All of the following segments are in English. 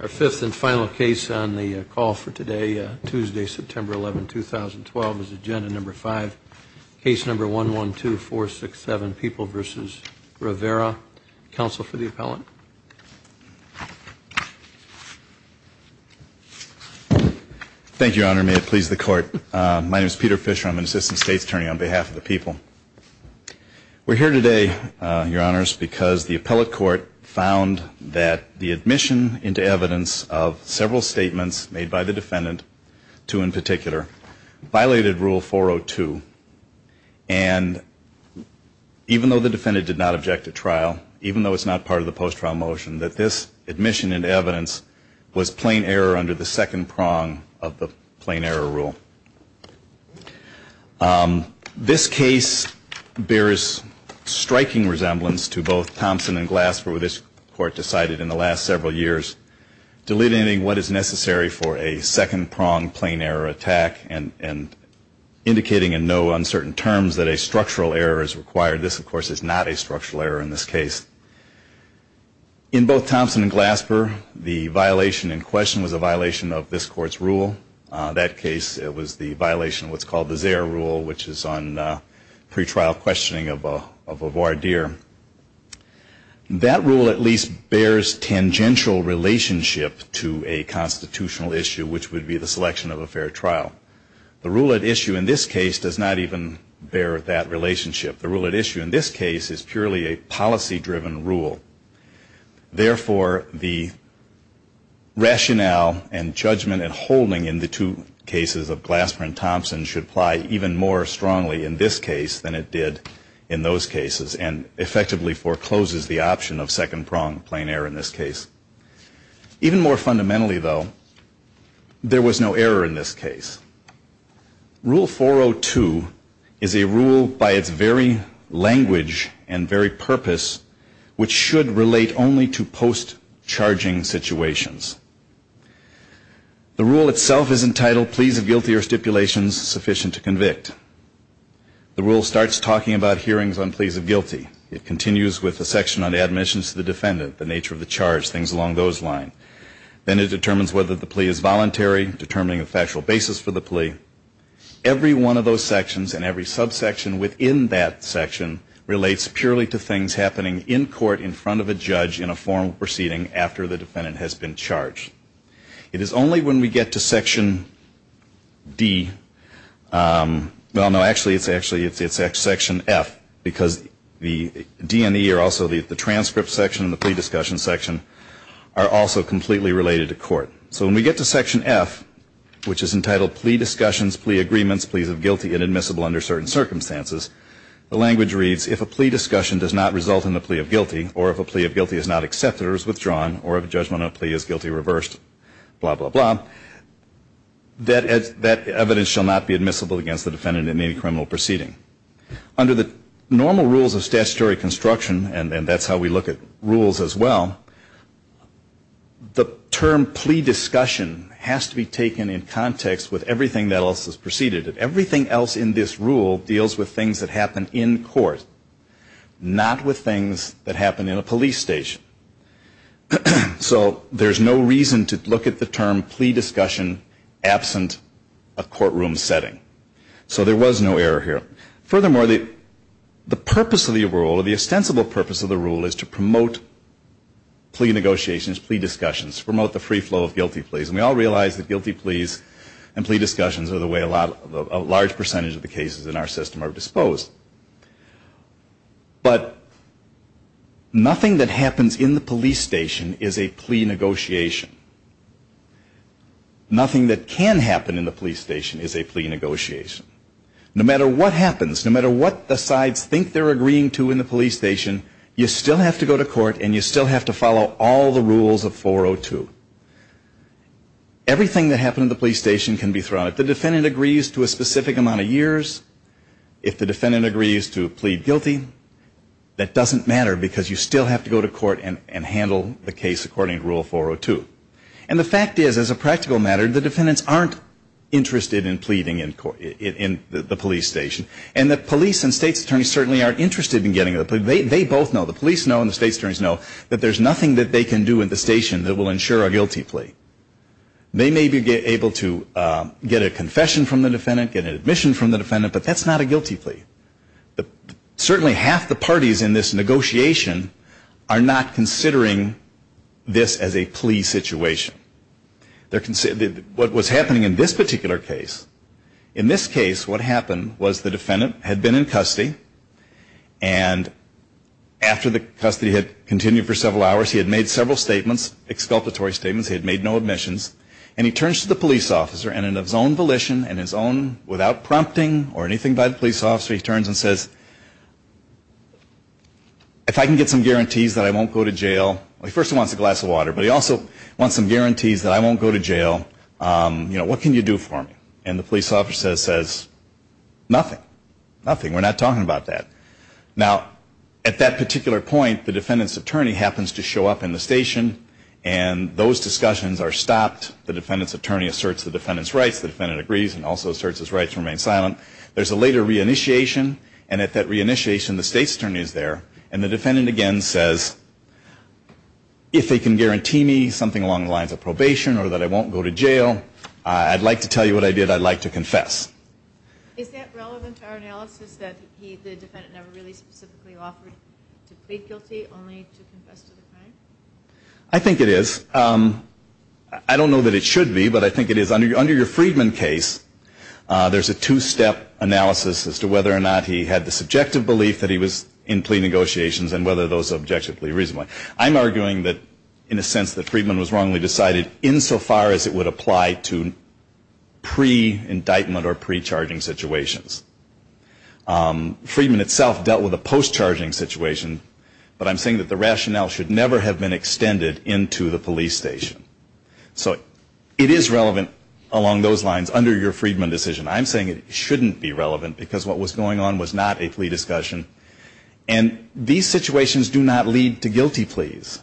Our fifth and final case on the call for today, Tuesday, September 11, 2012, is agenda number five. Case number 112467, People v. Rivera. Counsel for the appellant. Thank you, Your Honor. May it please the Court. My name is Peter Fisher. I'm an assistant state's attorney on behalf of the people. We're here today, Your Honors, because the appellate court found that the admission into evidence of several statements made by the defendant, two in particular, violated Rule 402. And even though the defendant did not object at trial, even though it's not part of the post-trial motion, that this admission into evidence was plain error under the second prong of the plain error rule. This case bears striking resemblance to both Thompson and Glasper, which this Court decided in the last several years, delineating what is necessary for a second prong plain error attack and indicating in no uncertain terms that a structural error is required. This, of course, is not a structural error in this case. In both Thompson and Glasper, the violation in question was a violation of this Court's rule. That case, it was the violation of what's called the Zare rule, which is on pretrial questioning of a voir dire. That rule at least bears tangential relationship to a constitutional issue, which would be the selection of a fair trial. The rule at issue in this case does not even bear that relationship. The rule at issue in this case is purely a policy-driven rule. Therefore, the rationale and judgment and holding in the two cases of Glasper and Thompson should apply even more strongly in this case than it did in those cases and effectively forecloses the option of second prong plain error in this case. Even more fundamentally, though, there was no error in this case. Rule 402 is a rule by its very language and very purpose, which should relate only to post-charging situations. The rule itself is entitled Pleas of Guilty or Stipulations Sufficient to Convict. The rule starts talking about hearings on pleas of guilty. It continues with a section on admissions to the defendant, the nature of the charge, things along those lines. Then it determines whether the plea is voluntary, determining a factual basis for the plea. Every one of those sections and every subsection within that section relates purely to things happening in court in front of a judge in a formal proceeding after the defendant has been charged. It is only when we get to section D, well, no, actually it's section F, because the D and E are also the transcript section and the plea discussion section are also completely related to court. So when we get to section F, which is entitled Plea Discussions, Plea Agreements, Pleas of Guilty and Admissible Under Certain Circumstances, the language reads, if a plea discussion does not result in the plea of guilty or if a plea of guilty is not accepted or is withdrawn or if a judgment of a plea is guilty reversed, blah, blah, blah, that evidence shall not be admissible against the defendant in any criminal proceeding. Under the normal rules of statutory construction, and that's how we look at rules as well, the term plea discussion has to be taken in context with everything else that's preceded. Everything else in this rule deals with things that happen in court, not with things that happen in a police station. So there's no reason to look at the term plea discussion absent a courtroom setting. So there was no error here. Furthermore, the purpose of the rule or the ostensible purpose of the rule is to promote plea negotiations, plea discussions, promote the free flow of guilty pleas. And we all realize that guilty pleas and plea discussions are the way a large percentage of the cases in our system are disposed. But nothing that happens in the police station is a plea negotiation. Nothing that can happen in the police station is a plea negotiation. No matter what happens, no matter what the sides think they're agreeing to in the police station, you still have to go to court and you still have to follow all the rules of 402. Everything that happened in the police station can be thrown out. If the defendant agrees to a specific amount of years, if the defendant agrees to plead guilty, that doesn't matter because you still have to go to court and handle the case according to Rule 402. And the fact is, as a practical matter, the defendants aren't interested in pleading in the police station. And the police and state attorneys certainly aren't interested in getting a plea. They both know, the police know and the state attorneys know, that there's nothing that they can do in the station that will ensure a guilty plea. They may be able to get a confession from the defendant, get an admission from the defendant, but that's not a guilty plea. Certainly half the parties in this negotiation are not considering this as a plea situation. What was happening in this particular case, in this case what happened was the defendant had been in custody and after the custody had continued for several hours, he had made several statements, exculpatory statements, he had made no admissions, and he turns to the police officer and in his own volition, in his own, without prompting or anything by the police officer, he turns and says, if I can get some guarantees that I won't go to jail, first he wants a glass of water, but he also wants some guarantees that I won't go to jail, you know, what can you do for me? And the police officer says, nothing, nothing, we're not talking about that. Now, at that particular point, the defendant's attorney happens to show up in the station and those discussions are stopped, the defendant's attorney asserts the defendant's rights, the defendant agrees and also asserts his rights and remains silent. There's a later re-initiation and at that re-initiation the state's attorney is there and the defendant again says, if they can guarantee me something along the lines of probation or that I won't go to jail, I'd like to tell you what I did, I'd like to confess. Is that relevant to our analysis that he, the defendant, never really specifically offered to plead guilty, only to confess to the crime? I think it is. I don't know that it should be, but I think it is. Under your Friedman case, there's a two-step analysis as to whether or not he had the subjective belief that he was in plea negotiations and whether those are objectively reasonable. I'm arguing that, in a sense, that Friedman was wrongly decided insofar as it would apply to pre-indictment or pre-charging situations. Friedman itself dealt with a post-charging situation, but I'm saying that the rationale should never have been extended into the police station. So it is relevant along those lines under your Friedman decision. I'm saying it shouldn't be relevant because what was going on was not a plea discussion and these situations do not lead to guilty pleas.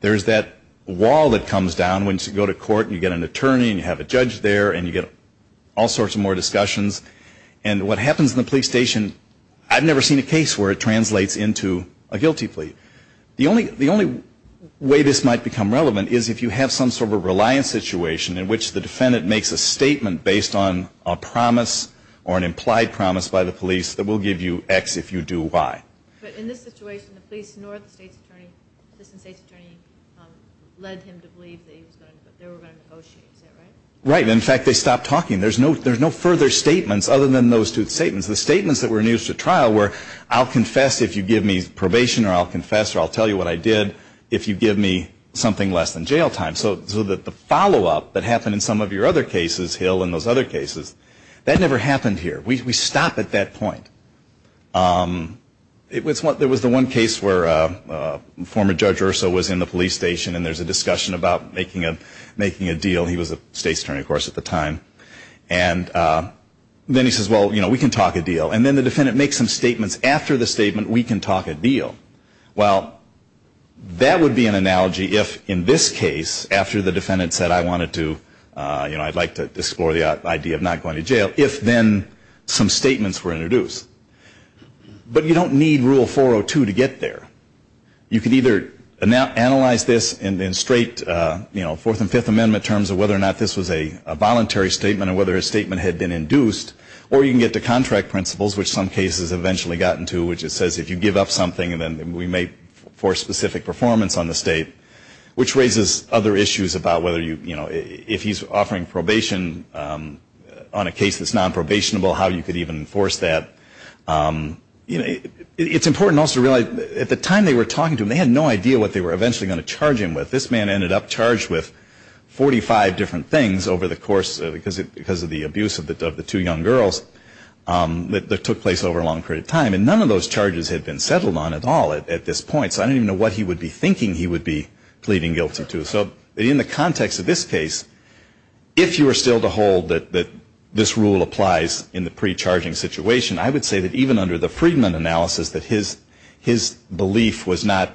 There's that wall that comes down when you go to court and you get an attorney and you have a judge there and you get all sorts of more discussions. And what happens in the police station, I've never seen a case where it translates into a guilty plea. The only way this might become relevant is if you have some sort of a reliance situation in which the defendant makes a statement based on a promise or an implied promise by the police that will give you X if you do Y. But in this situation, the police nor the assistant state's attorney led him to believe that they were going to negotiate. Is that right? Right. In fact, they stopped talking. There's no further statements other than those two statements. The statements that were used at trial were I'll confess if you give me probation or I'll confess or I'll tell you what I did if you give me something less than jail time. So the follow-up that happened in some of your other cases, Hill, in those other cases, that never happened here. We stop at that point. There was the one case where former Judge Urso was in the police station and there's a discussion about making a deal. He was a state's attorney, of course, at the time. And then he says, well, you know, we can talk a deal. And then the defendant makes some statements. After the statement, we can talk a deal. Well, that would be an analogy if in this case, after the defendant said I wanted to, you know, I'd like to explore the idea of not going to jail if then some statements were introduced. But you don't need Rule 402 to get there. You can either analyze this in straight, you know, Fourth and Fifth Amendment terms of whether or not this was a voluntary statement or whether a statement had been induced or you can get to contract principles, which some cases have eventually gotten to, which it says if you give up something, then we may force specific performance on the state, which raises other issues about whether you, you know, if he's offering probation on a case that's nonprobationable, how you could even enforce that. You know, it's important also to realize at the time they were talking to him, they had no idea what they were eventually going to charge him with. This man ended up charged with 45 different things over the course, because of the abuse of the two young girls that took place over a long period of time. And none of those charges had been settled on at all at this point. So I don't even know what he would be thinking he would be pleading guilty to. So in the context of this case, if you were still to hold that this rule applies in the pre-charging situation, I would say that even under the Friedman analysis, that his belief was not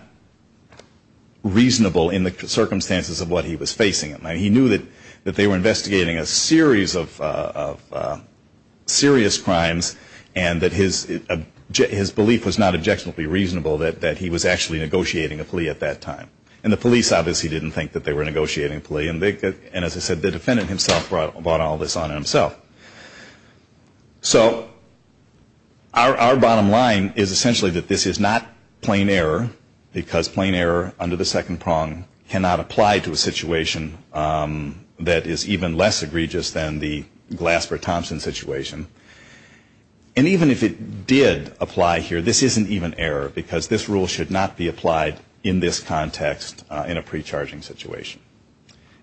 reasonable in the circumstances of what he was facing. He knew that they were investigating a series of serious crimes and that his belief was not objectionably reasonable that he was actually negotiating a plea at that time. And the police obviously didn't think that they were negotiating a plea. And as I said, the defendant himself brought all this on himself. So our bottom line is essentially that this is not plain error, because plain error under the second prong cannot apply to a situation that is even less egregious than the Glasper-Thompson situation. And even if it did apply here, this isn't even error, because this rule should not be applied in this context in a pre-charging situation.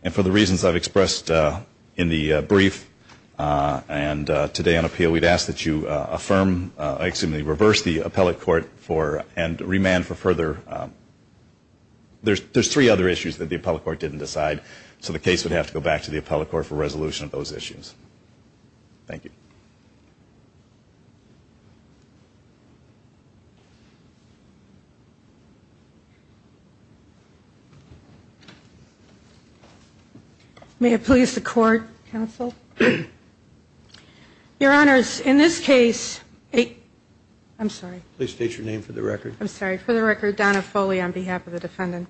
And for the reasons I've expressed in the brief and today on appeal, we'd ask that you affirm, excuse me, reverse the appellate court and remand for further... There's three other issues that the appellate court didn't decide, so the case would have to go back to the appellate court for resolution of those issues. Thank you. May it please the court, counsel. Your Honors, in this case... I'm sorry. Please state your name for the record. I'm sorry, for the record, Donna Foley on behalf of the defendant.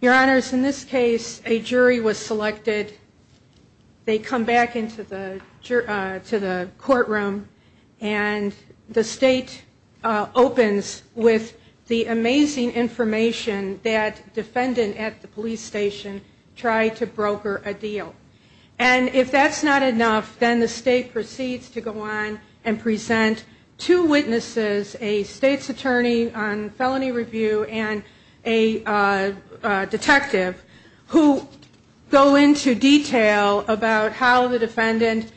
Your Honors, in this case a jury was selected. They come back into the courtroom and the state opens with the amazing information that defendant at the police station tried to broker a deal. And if that's not enough, then the state proceeds to go on and present two witnesses, a state's attorney on felony review and a detective, who go into detail about how the defendant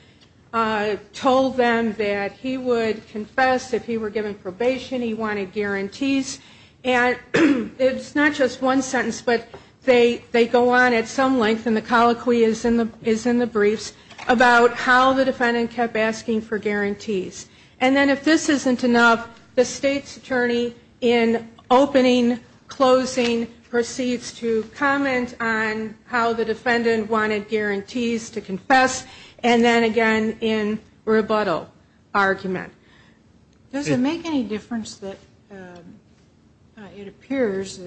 told them that he would confess if he were given probation, he wanted guarantees. And it's not just one sentence, but they go on at some length, and the colloquy is in the briefs, about how the defendant kept asking for guarantees. And then if this isn't enough, the state's attorney in opening, closing, proceeds to comment on how the defendant wanted guarantees to confess and then again in rebuttal argument. Does it make any difference that it appears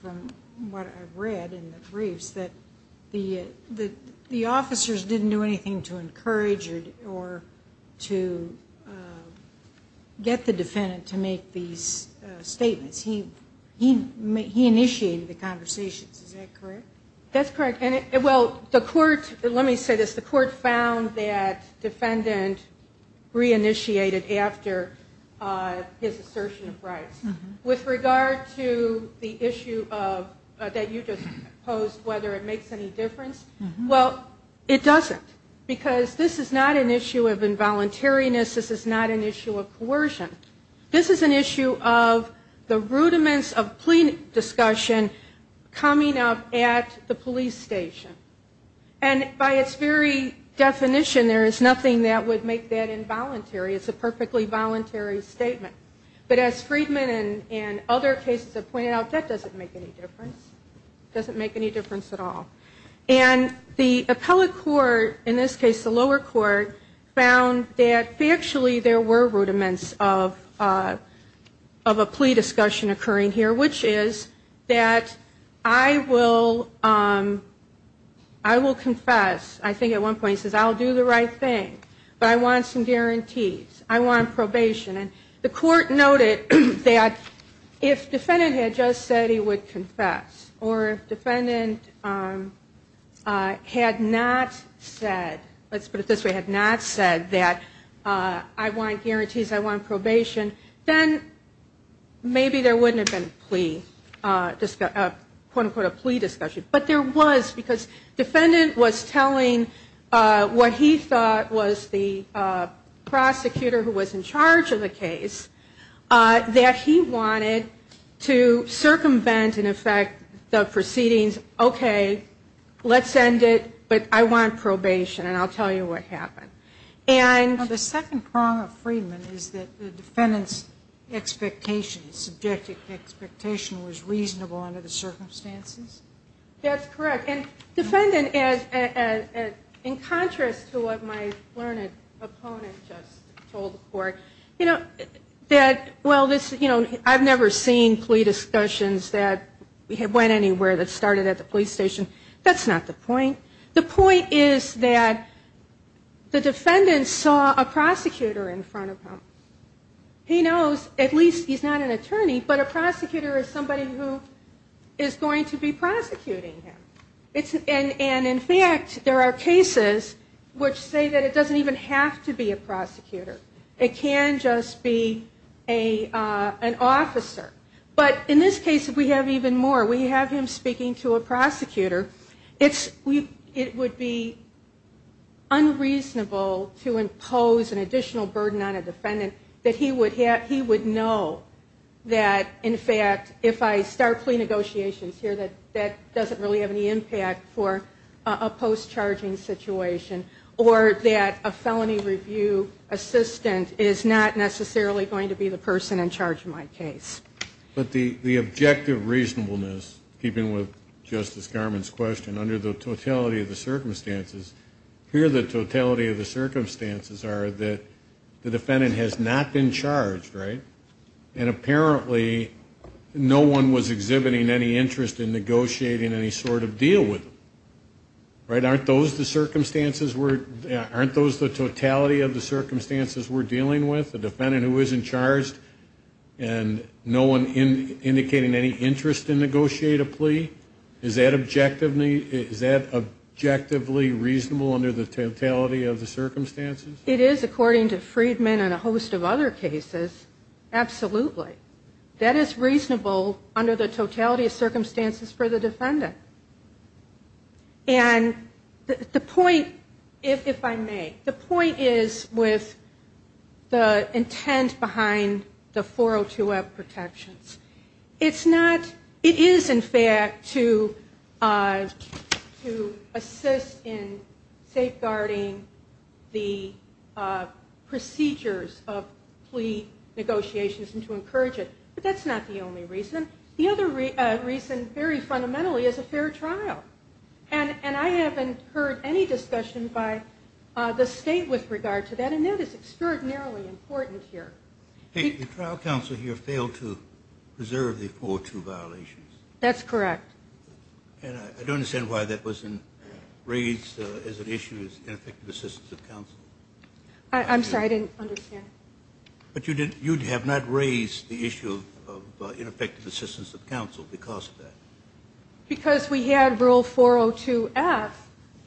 from what I've read in the briefs that the officers didn't do anything to encourage or to get the defendant to make these statements? He initiated the conversations, is that correct? That's correct, and well, the court, let me say this, the court found that defendant reinitiated after his assertion of rights. With regard to the issue that you just posed, whether it makes any difference, well, it doesn't, because this is not an issue of involuntariness, this is not an issue of coercion. This is an issue of the rudiments of plea discussion coming up at the police station. And by its very definition, there is nothing that would make that involuntary. It's a perfectly voluntary statement. But as Friedman and other cases have pointed out, that doesn't make any difference. It doesn't make any difference at all. And the appellate court, in this case the lower court, found that factually there were rudiments of a plea discussion occurring here, which is that I will confess, I think at one point he says, I'll do the right thing, but I want some guarantees, I want probation. And the court noted that if defendant had just said he would confess, or if defendant had not said, let's put it this way, if defendant had not said that I want guarantees, I want probation, then maybe there wouldn't have been a plea, a quote-unquote a plea discussion. But there was, because defendant was telling what he thought was the prosecutor who was in charge of the case, that he wanted to circumvent, in effect, the proceedings, okay, let's end it, but I want probation, and I'll tell you what happened. And the second prong of Friedman is that the defendant's expectation, subjective expectation was reasonable under the circumstances? That's correct. And defendant, in contrast to what my learned opponent just told the court, I've never seen plea discussions that went anywhere that started at the police station. That's not the point. The point is that the defendant saw a prosecutor in front of him. He knows, at least he's not an attorney, but a prosecutor is somebody who is going to be prosecuting him. And in fact, there are cases which say that it doesn't even have to be a prosecutor. It can just be an officer. But in this case, we have even more. We have him speaking to a prosecutor. It would be unreasonable to impose an additional burden on a defendant that he would know that, in fact, if I start plea negotiations here, that that doesn't really have any impact for a post-charging situation, or that a felony review assistant is not necessarily going to be the person in charge of my case. But the objective reasonableness, keeping with Justice Garmon's question, under the totality of the circumstances, here the totality of the circumstances are that the defendant has not been charged, right? And apparently no one was exhibiting any interest in negotiating any sort of deal with him. Aren't those the circumstances we're, aren't those the totality of the circumstances we're dealing with? A defendant who isn't charged and no one indicating any interest in negotiate a plea? Is that objectively reasonable under the totality of the circumstances? It is, according to Friedman and a host of other cases, absolutely. That is reasonable under the totality of circumstances for the defendant. And the point, if I may, the point is with the intent behind the 402F protections. It's not, it is in fact to assist in safeguarding the procedures of plea negotiations and to encourage it. But that's not the only reason. The other reason very fundamentally is a fair trial. And I haven't heard any discussion by the state with regard to that. And that is extraordinarily important here. The trial counsel here failed to preserve the 402 violations. That's correct. And I don't understand why that wasn't raised as an issue as an effective assistance of counsel. I'm sorry, I didn't understand. But you have not raised the issue of ineffective assistance of counsel because of that? Because we had rule 402F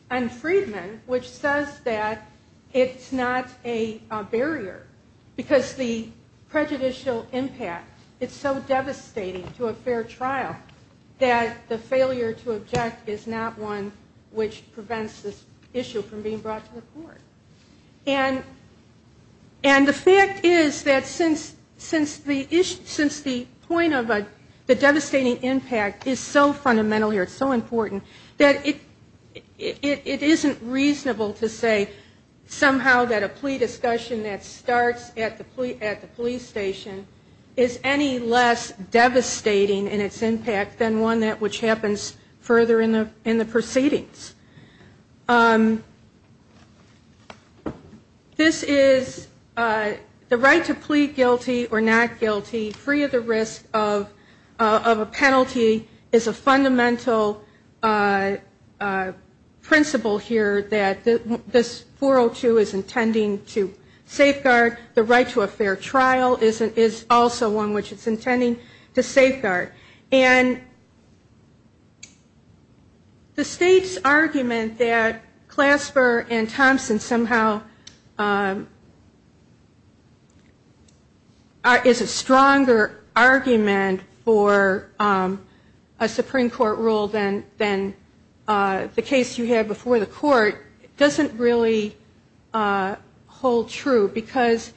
on Friedman which says that it's not a barrier. Because the prejudicial impact, it's so devastating to a fair trial that the failure to object is not one which prevents this issue from being brought to the court. And the fact is that since the point of the devastating impact is so fundamental here, it's so important, that it isn't reasonable to say somehow that a plea discussion that starts at the police station is any less devastating in its impact than one that which happens further in the proceedings. This is the right to plead guilty or not guilty, free of the risk of a penalty, is a fundamental principle here that this 402 is intending to safeguard. The right to a fair trial is also one which it's intending to safeguard. And the state's argument that Clasper and Thompson, some of the other courts, somehow is a stronger argument for a Supreme Court rule than the case you had before the court, doesn't really hold true. Because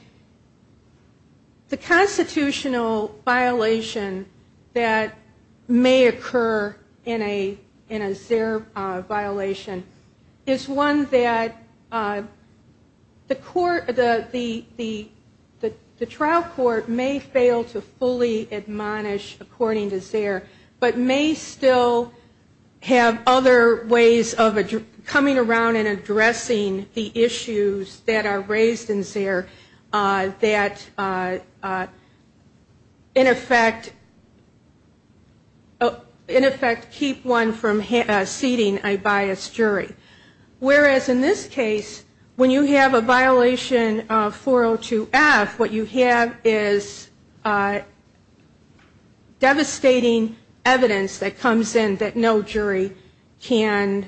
the constitutional violation that may occur in a ZERB violation is one that the trial court may fail to fully admonish according to ZERB, but may still have other ways of coming around and addressing the issues that are raised in ZERB that in effect keep one from seating a biased jury. Whereas in this case, when you have a violation of 402F, what you have is devastating evidence that comes in that no jury can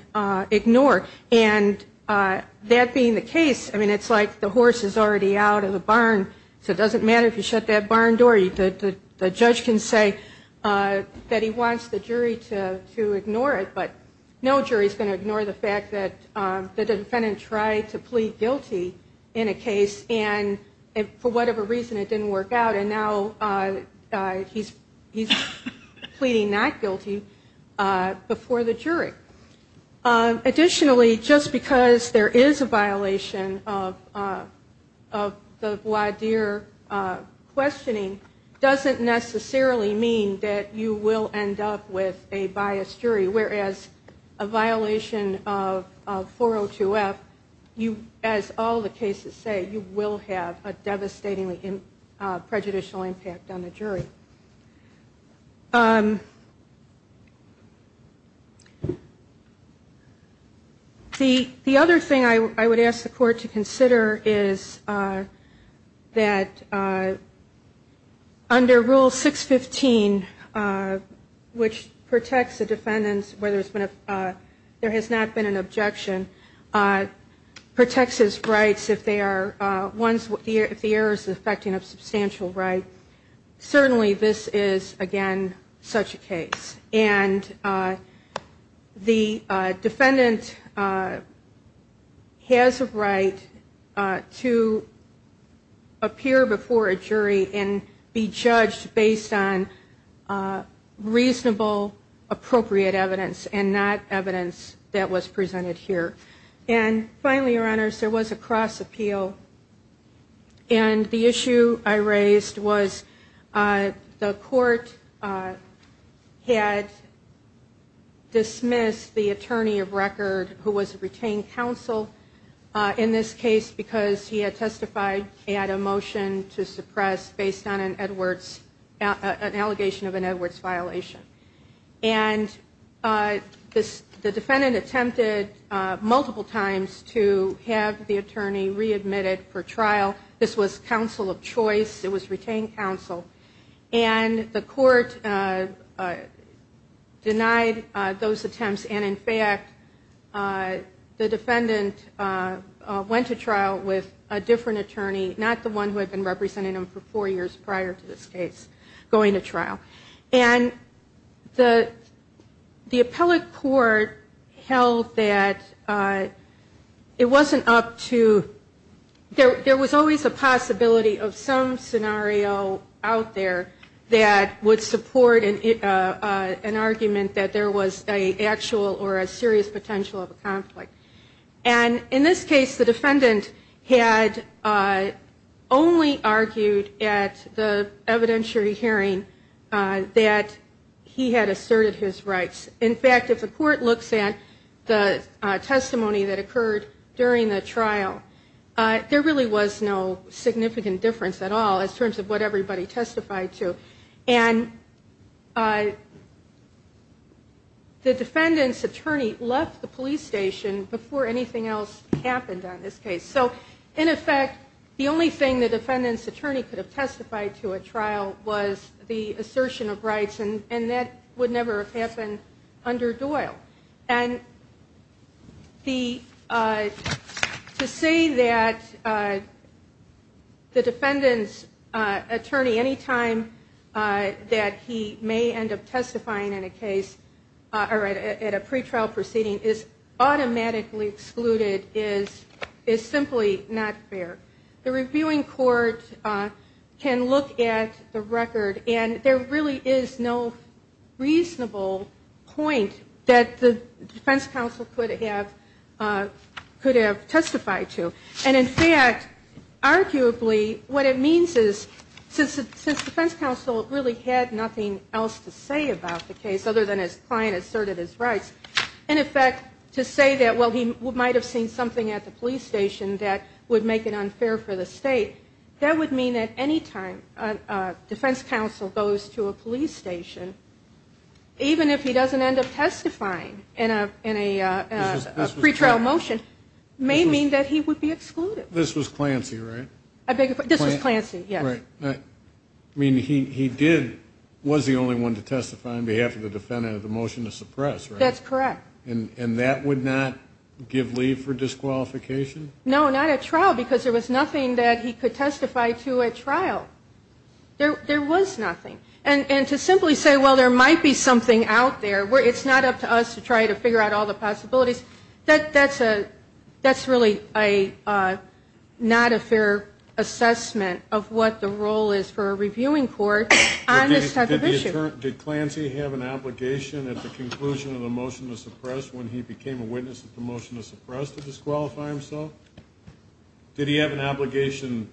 ignore. And that being the case, I mean, it's like the horse is already out of the barn, so it doesn't matter if you shut that barn door. The judge can say that he wants the jury to ignore it, but no jury is going to ignore the fact that the defendant tried to plead guilty in a case and for whatever reason it didn't work out and now he's pleading not guilty before the jury. Additionally, just because there is a violation of the voir dire questioning, doesn't necessarily mean that you will end up with a biased jury. Whereas a violation of 402F, as all the cases say, you will have a devastatingly prejudicial impact on the jury. The other thing I would ask the court to consider is that if you have a violation of 402F, under Rule 615, which protects the defendant's, whether there has not been an objection, protects his rights if the error is affecting a substantial right, certainly this is, again, such a case. And the defendant has a right to appear before a jury and be judged on the basis of the reasonable, appropriate evidence and not evidence that was presented here. And finally, your honors, there was a cross appeal and the issue I raised was the court had dismissed the attorney of record who was a retained counsel in this case because he had testified he had a motion to re-admit an allegation of an Edwards violation. And the defendant attempted multiple times to have the attorney re-admitted for trial. This was counsel of choice. It was retained counsel. And the court denied those attempts and, in fact, the defendant went to trial with a different attorney, not the defendant, in this case, going to trial. And the appellate court held that it wasn't up to, there was always a possibility of some scenario out there that would support an argument that there was an actual or a serious potential of a conflict. And in this case, the defendant had only argued at the evidence presented in this case. And in fact, if the court looks at the testimony that occurred during the trial, there really was no significant difference at all in terms of what everybody testified to. And the defendant's attorney left the police station before anything else happened on this case. So, in effect, the only thing the defendant's attorney could have testified to at trial was that he had assertion of rights, and that would never have happened under Doyle. To say that the defendant's attorney, any time that he may end up testifying in a case, or at a pretrial proceeding, is automatically excluded is simply not fair. The reviewing court can look at the record, and there really is no reasonable point that the defense counsel could have testified to. And in fact, arguably, what it means is, since the defense counsel really had nothing else to say about the case, other than his client asserted his rights, in effect, to say that, well, he might have seen something at the police station that would make it unfair for the state, that would mean that any time a defense counsel goes to a police station, even if he doesn't end up testifying in a pretrial motion, may mean that he would be excluded. This was Clancy, right? This was Clancy, yes. Right. I mean, he did, was the only one to testify on behalf of the defendant of the motion to suppress, right? That's correct. And that would not give leave for disqualification? No, not at trial, because there was nothing that he could testify to at trial. There was nothing. And to simply say, well, there might be something out there, it's not up to us to try to figure out all the possibilities, that's really not a fair assessment of what the role is for a reviewing court on this type of issue. Did Clancy have an obligation at the conclusion of the motion to suppress, when he became a witness at the motion to suppress, to disqualify himself? He had an obligation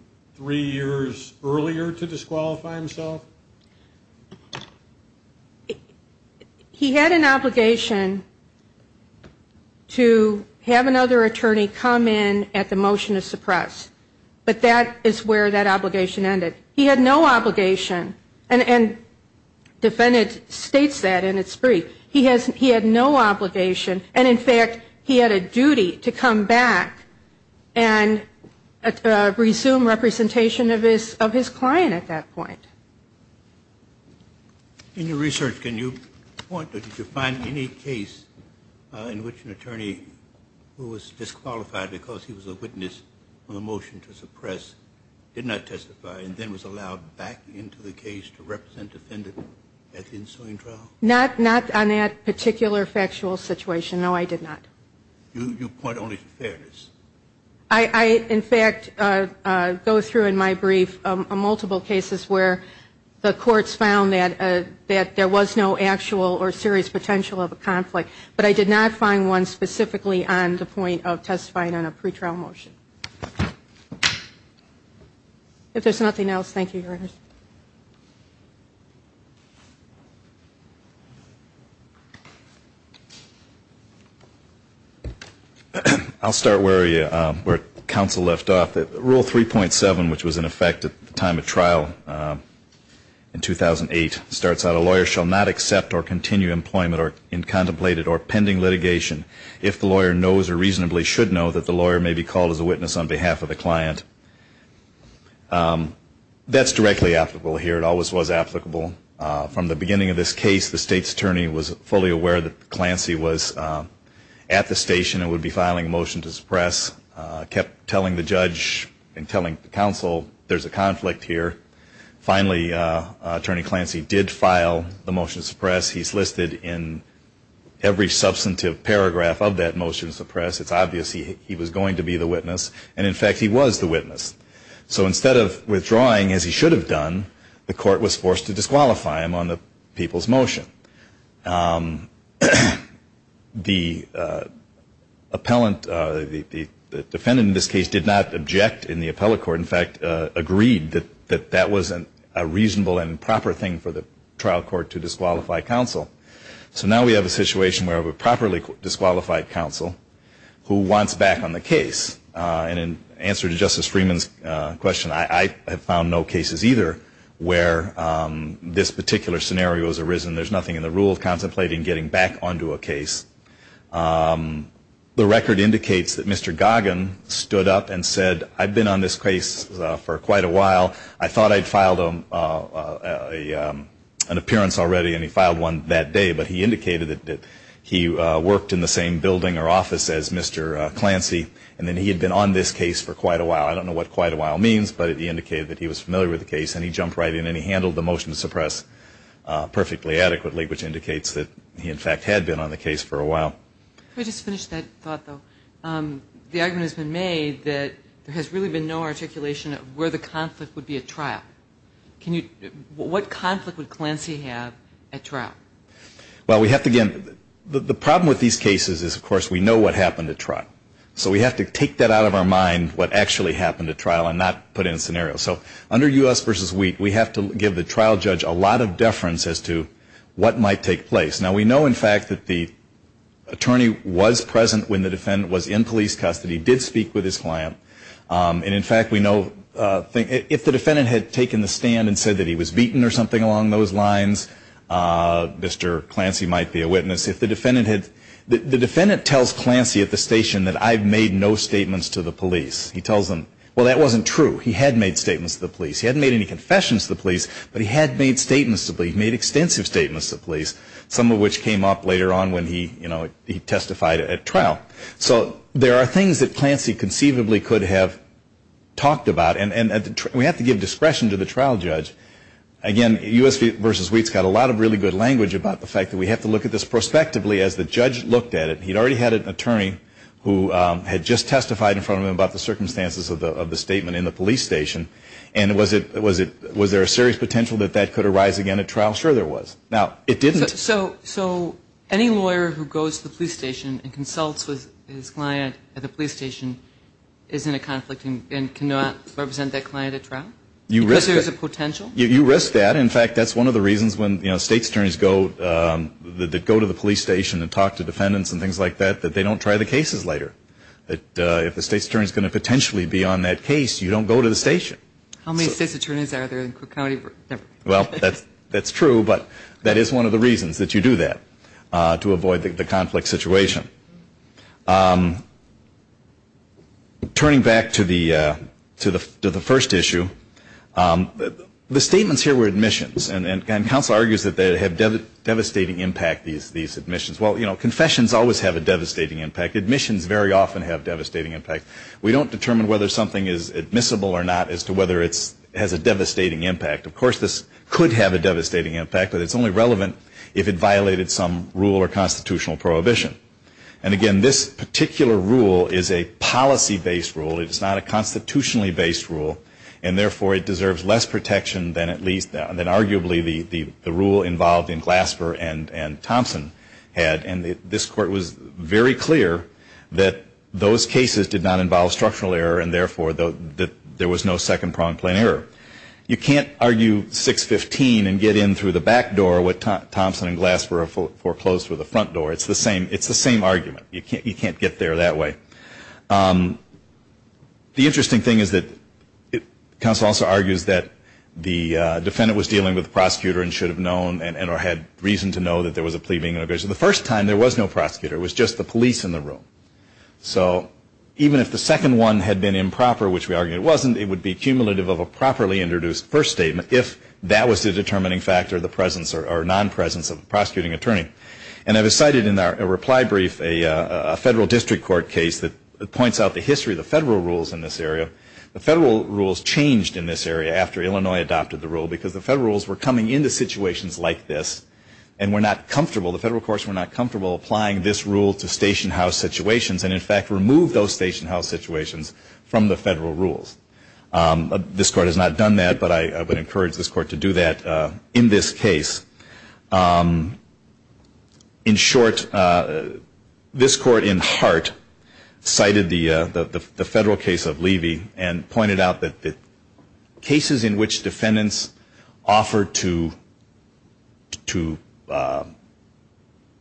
to have another attorney come in at the motion to suppress, but that is where that obligation ended. He had no obligation, and the defendant states that in its brief, he had no obligation, and in fact, he had a duty to come back and resume representation of his client. In your research, can you point to, did you find any case in which an attorney who was disqualified because he was a witness on the motion to suppress did not testify, and then was allowed back into the case to represent the defendant at the ensuing trial? Not on that particular factual situation, no, I did not. You point only to fairness. I, in fact, go through in my brief multiple cases where the courts found that there was no actual or serious potential of a conflict, but I did not find one specifically on the point of testifying on a pretrial motion. If there's nothing else, thank you, Your Honor. I'll start where counsel left off. Rule 3.7, which was in effect at the time of trial in 2008, starts out, a lawyer shall not accept or continue employment in contemplated or pending litigation if the lawyer knows or reasonably should know that the lawyer may be called as a witness on behalf of the client. That's directly applicable here. It always was applicable. From the beginning of this case, the state's attorney was fully aware that the client would be at the station and would be filing a motion to suppress, kept telling the judge and telling counsel there's a conflict here. Finally, Attorney Clancy did file the motion to suppress. He's listed in every substantive paragraph of that motion to suppress. It's obvious he was going to be the witness, and in fact, he was the witness. So instead of withdrawing, as he should have done, the court was forced to disqualify him on the people's motion. The defendant in this case did not object in the appellate court, in fact, agreed that that wasn't a reasonable and proper thing for the trial court to disqualify counsel. So now we have a situation where we have a properly disqualified counsel who wants back on the case. And in answer to Justice Freeman's question, I have found no cases either where this particular scenario has arisen. There's nothing in the rule contemplating getting back onto a case. The record indicates that Mr. Goggin stood up and said, I've been on this case for quite a while. I thought I'd filed an appearance already, and he filed one that day. But he indicated that he worked in the same building or office as Mr. Clancy, and that he had been on this case for quite a while. I don't know what quite a while means, but he indicated that he was familiar with the case, and he jumped right in, and he handled the motion to suppress perfectly adequately, which indicates that he, in fact, had been on the case for a while. Can I just finish that thought, though? The argument has been made that there has really been no articulation of where the conflict would be at trial. What conflict would Clancy have at trial? Well, we have to, again, the problem with these cases is, of course, we know what happened at trial. So we have to take that out of our trial and not put in a scenario. So under U.S. v. Wheat, we have to give the trial judge a lot of deference as to what might take place. Now, we know, in fact, that the attorney was present when the defendant was in police custody, did speak with his client. And, in fact, we know, if the defendant had taken the stand and said that he was beaten or something along those lines, Mr. Clancy might be a witness. If the defendant had, the defendant tells Clancy at the station that I've made no statements to the police. He tells them, well, that wasn't true. He had made statements to the police. He hadn't made any confessions to the police, but he had made statements to the police. He made extensive statements to the police, some of which came up later on when he testified at trial. So there are things that Clancy conceivably could have talked about. And we have to give discretion to the trial judge. Again, U.S. v. Wheat's got a lot of really good language about the fact that we have to look at this prospectively as the judge looked at it. He'd already had an attorney who had just made a statement in the police station. And was there a serious potential that that could arise again at trial? Sure there was. Now, it didn't. So any lawyer who goes to the police station and consults with his client at the police station is in a conflict and cannot represent that client at trial? Because there's a potential? You risk that. In fact, that's one of the reasons when state attorneys go to the police station and talk to defendants and things like that, that they don't try the cases later. That if the state attorney is going to potentially be on that case, you don't go to the station. How many state attorneys are there in Cook County? Well, that's true, but that is one of the reasons that you do that, to avoid the conflict situation. Turning back to the first issue, the statements here were admissions. And counsel argues that they have devastating impact, these statements. Admissions very often have devastating impact. We don't determine whether something is admissible or not as to whether it has a devastating impact. Of course, this could have a devastating impact, but it's only relevant if it violated some rule or constitutional prohibition. And again, this particular rule is a policy-based rule. It's not a constitutionally-based rule. And therefore, it deserves less protection than at least, than arguably the rule involved in Glasper and Thompson had. And this Court was very much in favor of that. It was very clear that those cases did not involve structural error, and therefore, that there was no second-pronged plain error. You can't argue 615 and get in through the back door what Thompson and Glasper foreclosed through the front door. It's the same argument. You can't get there that way. The interesting thing is that counsel also argues that the defendant was dealing with the prosecutor and should have known, or had reason to know, that there was no prosecutor. It was just the police in the room. So even if the second one had been improper, which we argue it wasn't, it would be cumulative of a properly introduced first statement if that was the determining factor of the presence or non-presence of the prosecuting attorney. And I've cited in our reply brief a federal district court case that points out the history of the federal rules in this area. The federal rules changed in this area after Illinois adopted the rule because the federal rules were coming into situations like this and were not comfortable, the federal courts were not comfortable applying this rule to station house situations and, in fact, removed those station house situations from the federal rules. This Court has not done that, but I would encourage this Court to do that in this case. In short, this Court in heart cited the federal case of Levy and pointed out that the cases in which defendants offered to, to, to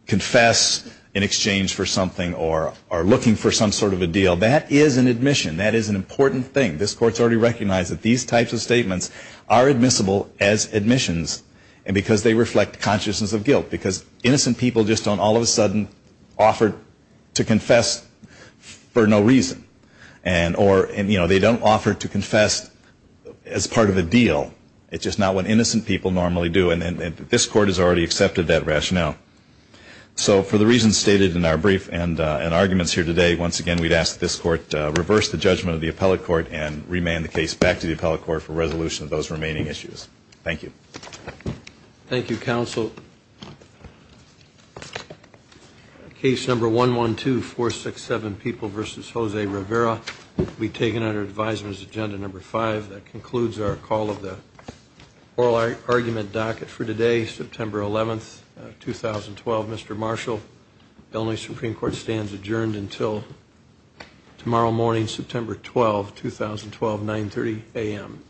confess in exchange for something or, or looking for some sort of a deal, that is an admission. That is an important thing. This Court has already recognized that these types of statements are admissible as admissions and because they reflect consciousness of guilt. Because innocent people just don't all of a sudden offer to confess for no reason. And, or, and, you know, they don't offer to confess as part of a rationale. So for the reasons stated in our brief and, and arguments here today, once again, we'd ask that this Court reverse the judgment of the appellate court and remand the case back to the appellate court for resolution of those remaining issues. Thank you. Thank you, counsel. Case number 112, 467, People v. Jose Rivera will be taken under advisers agenda number five. That concludes our call of the oral argument for today, September 11th, 2012. Mr. Marshall, Illinois Supreme Court stands adjourned until tomorrow morning, September 12th, 2012, 930 a.m.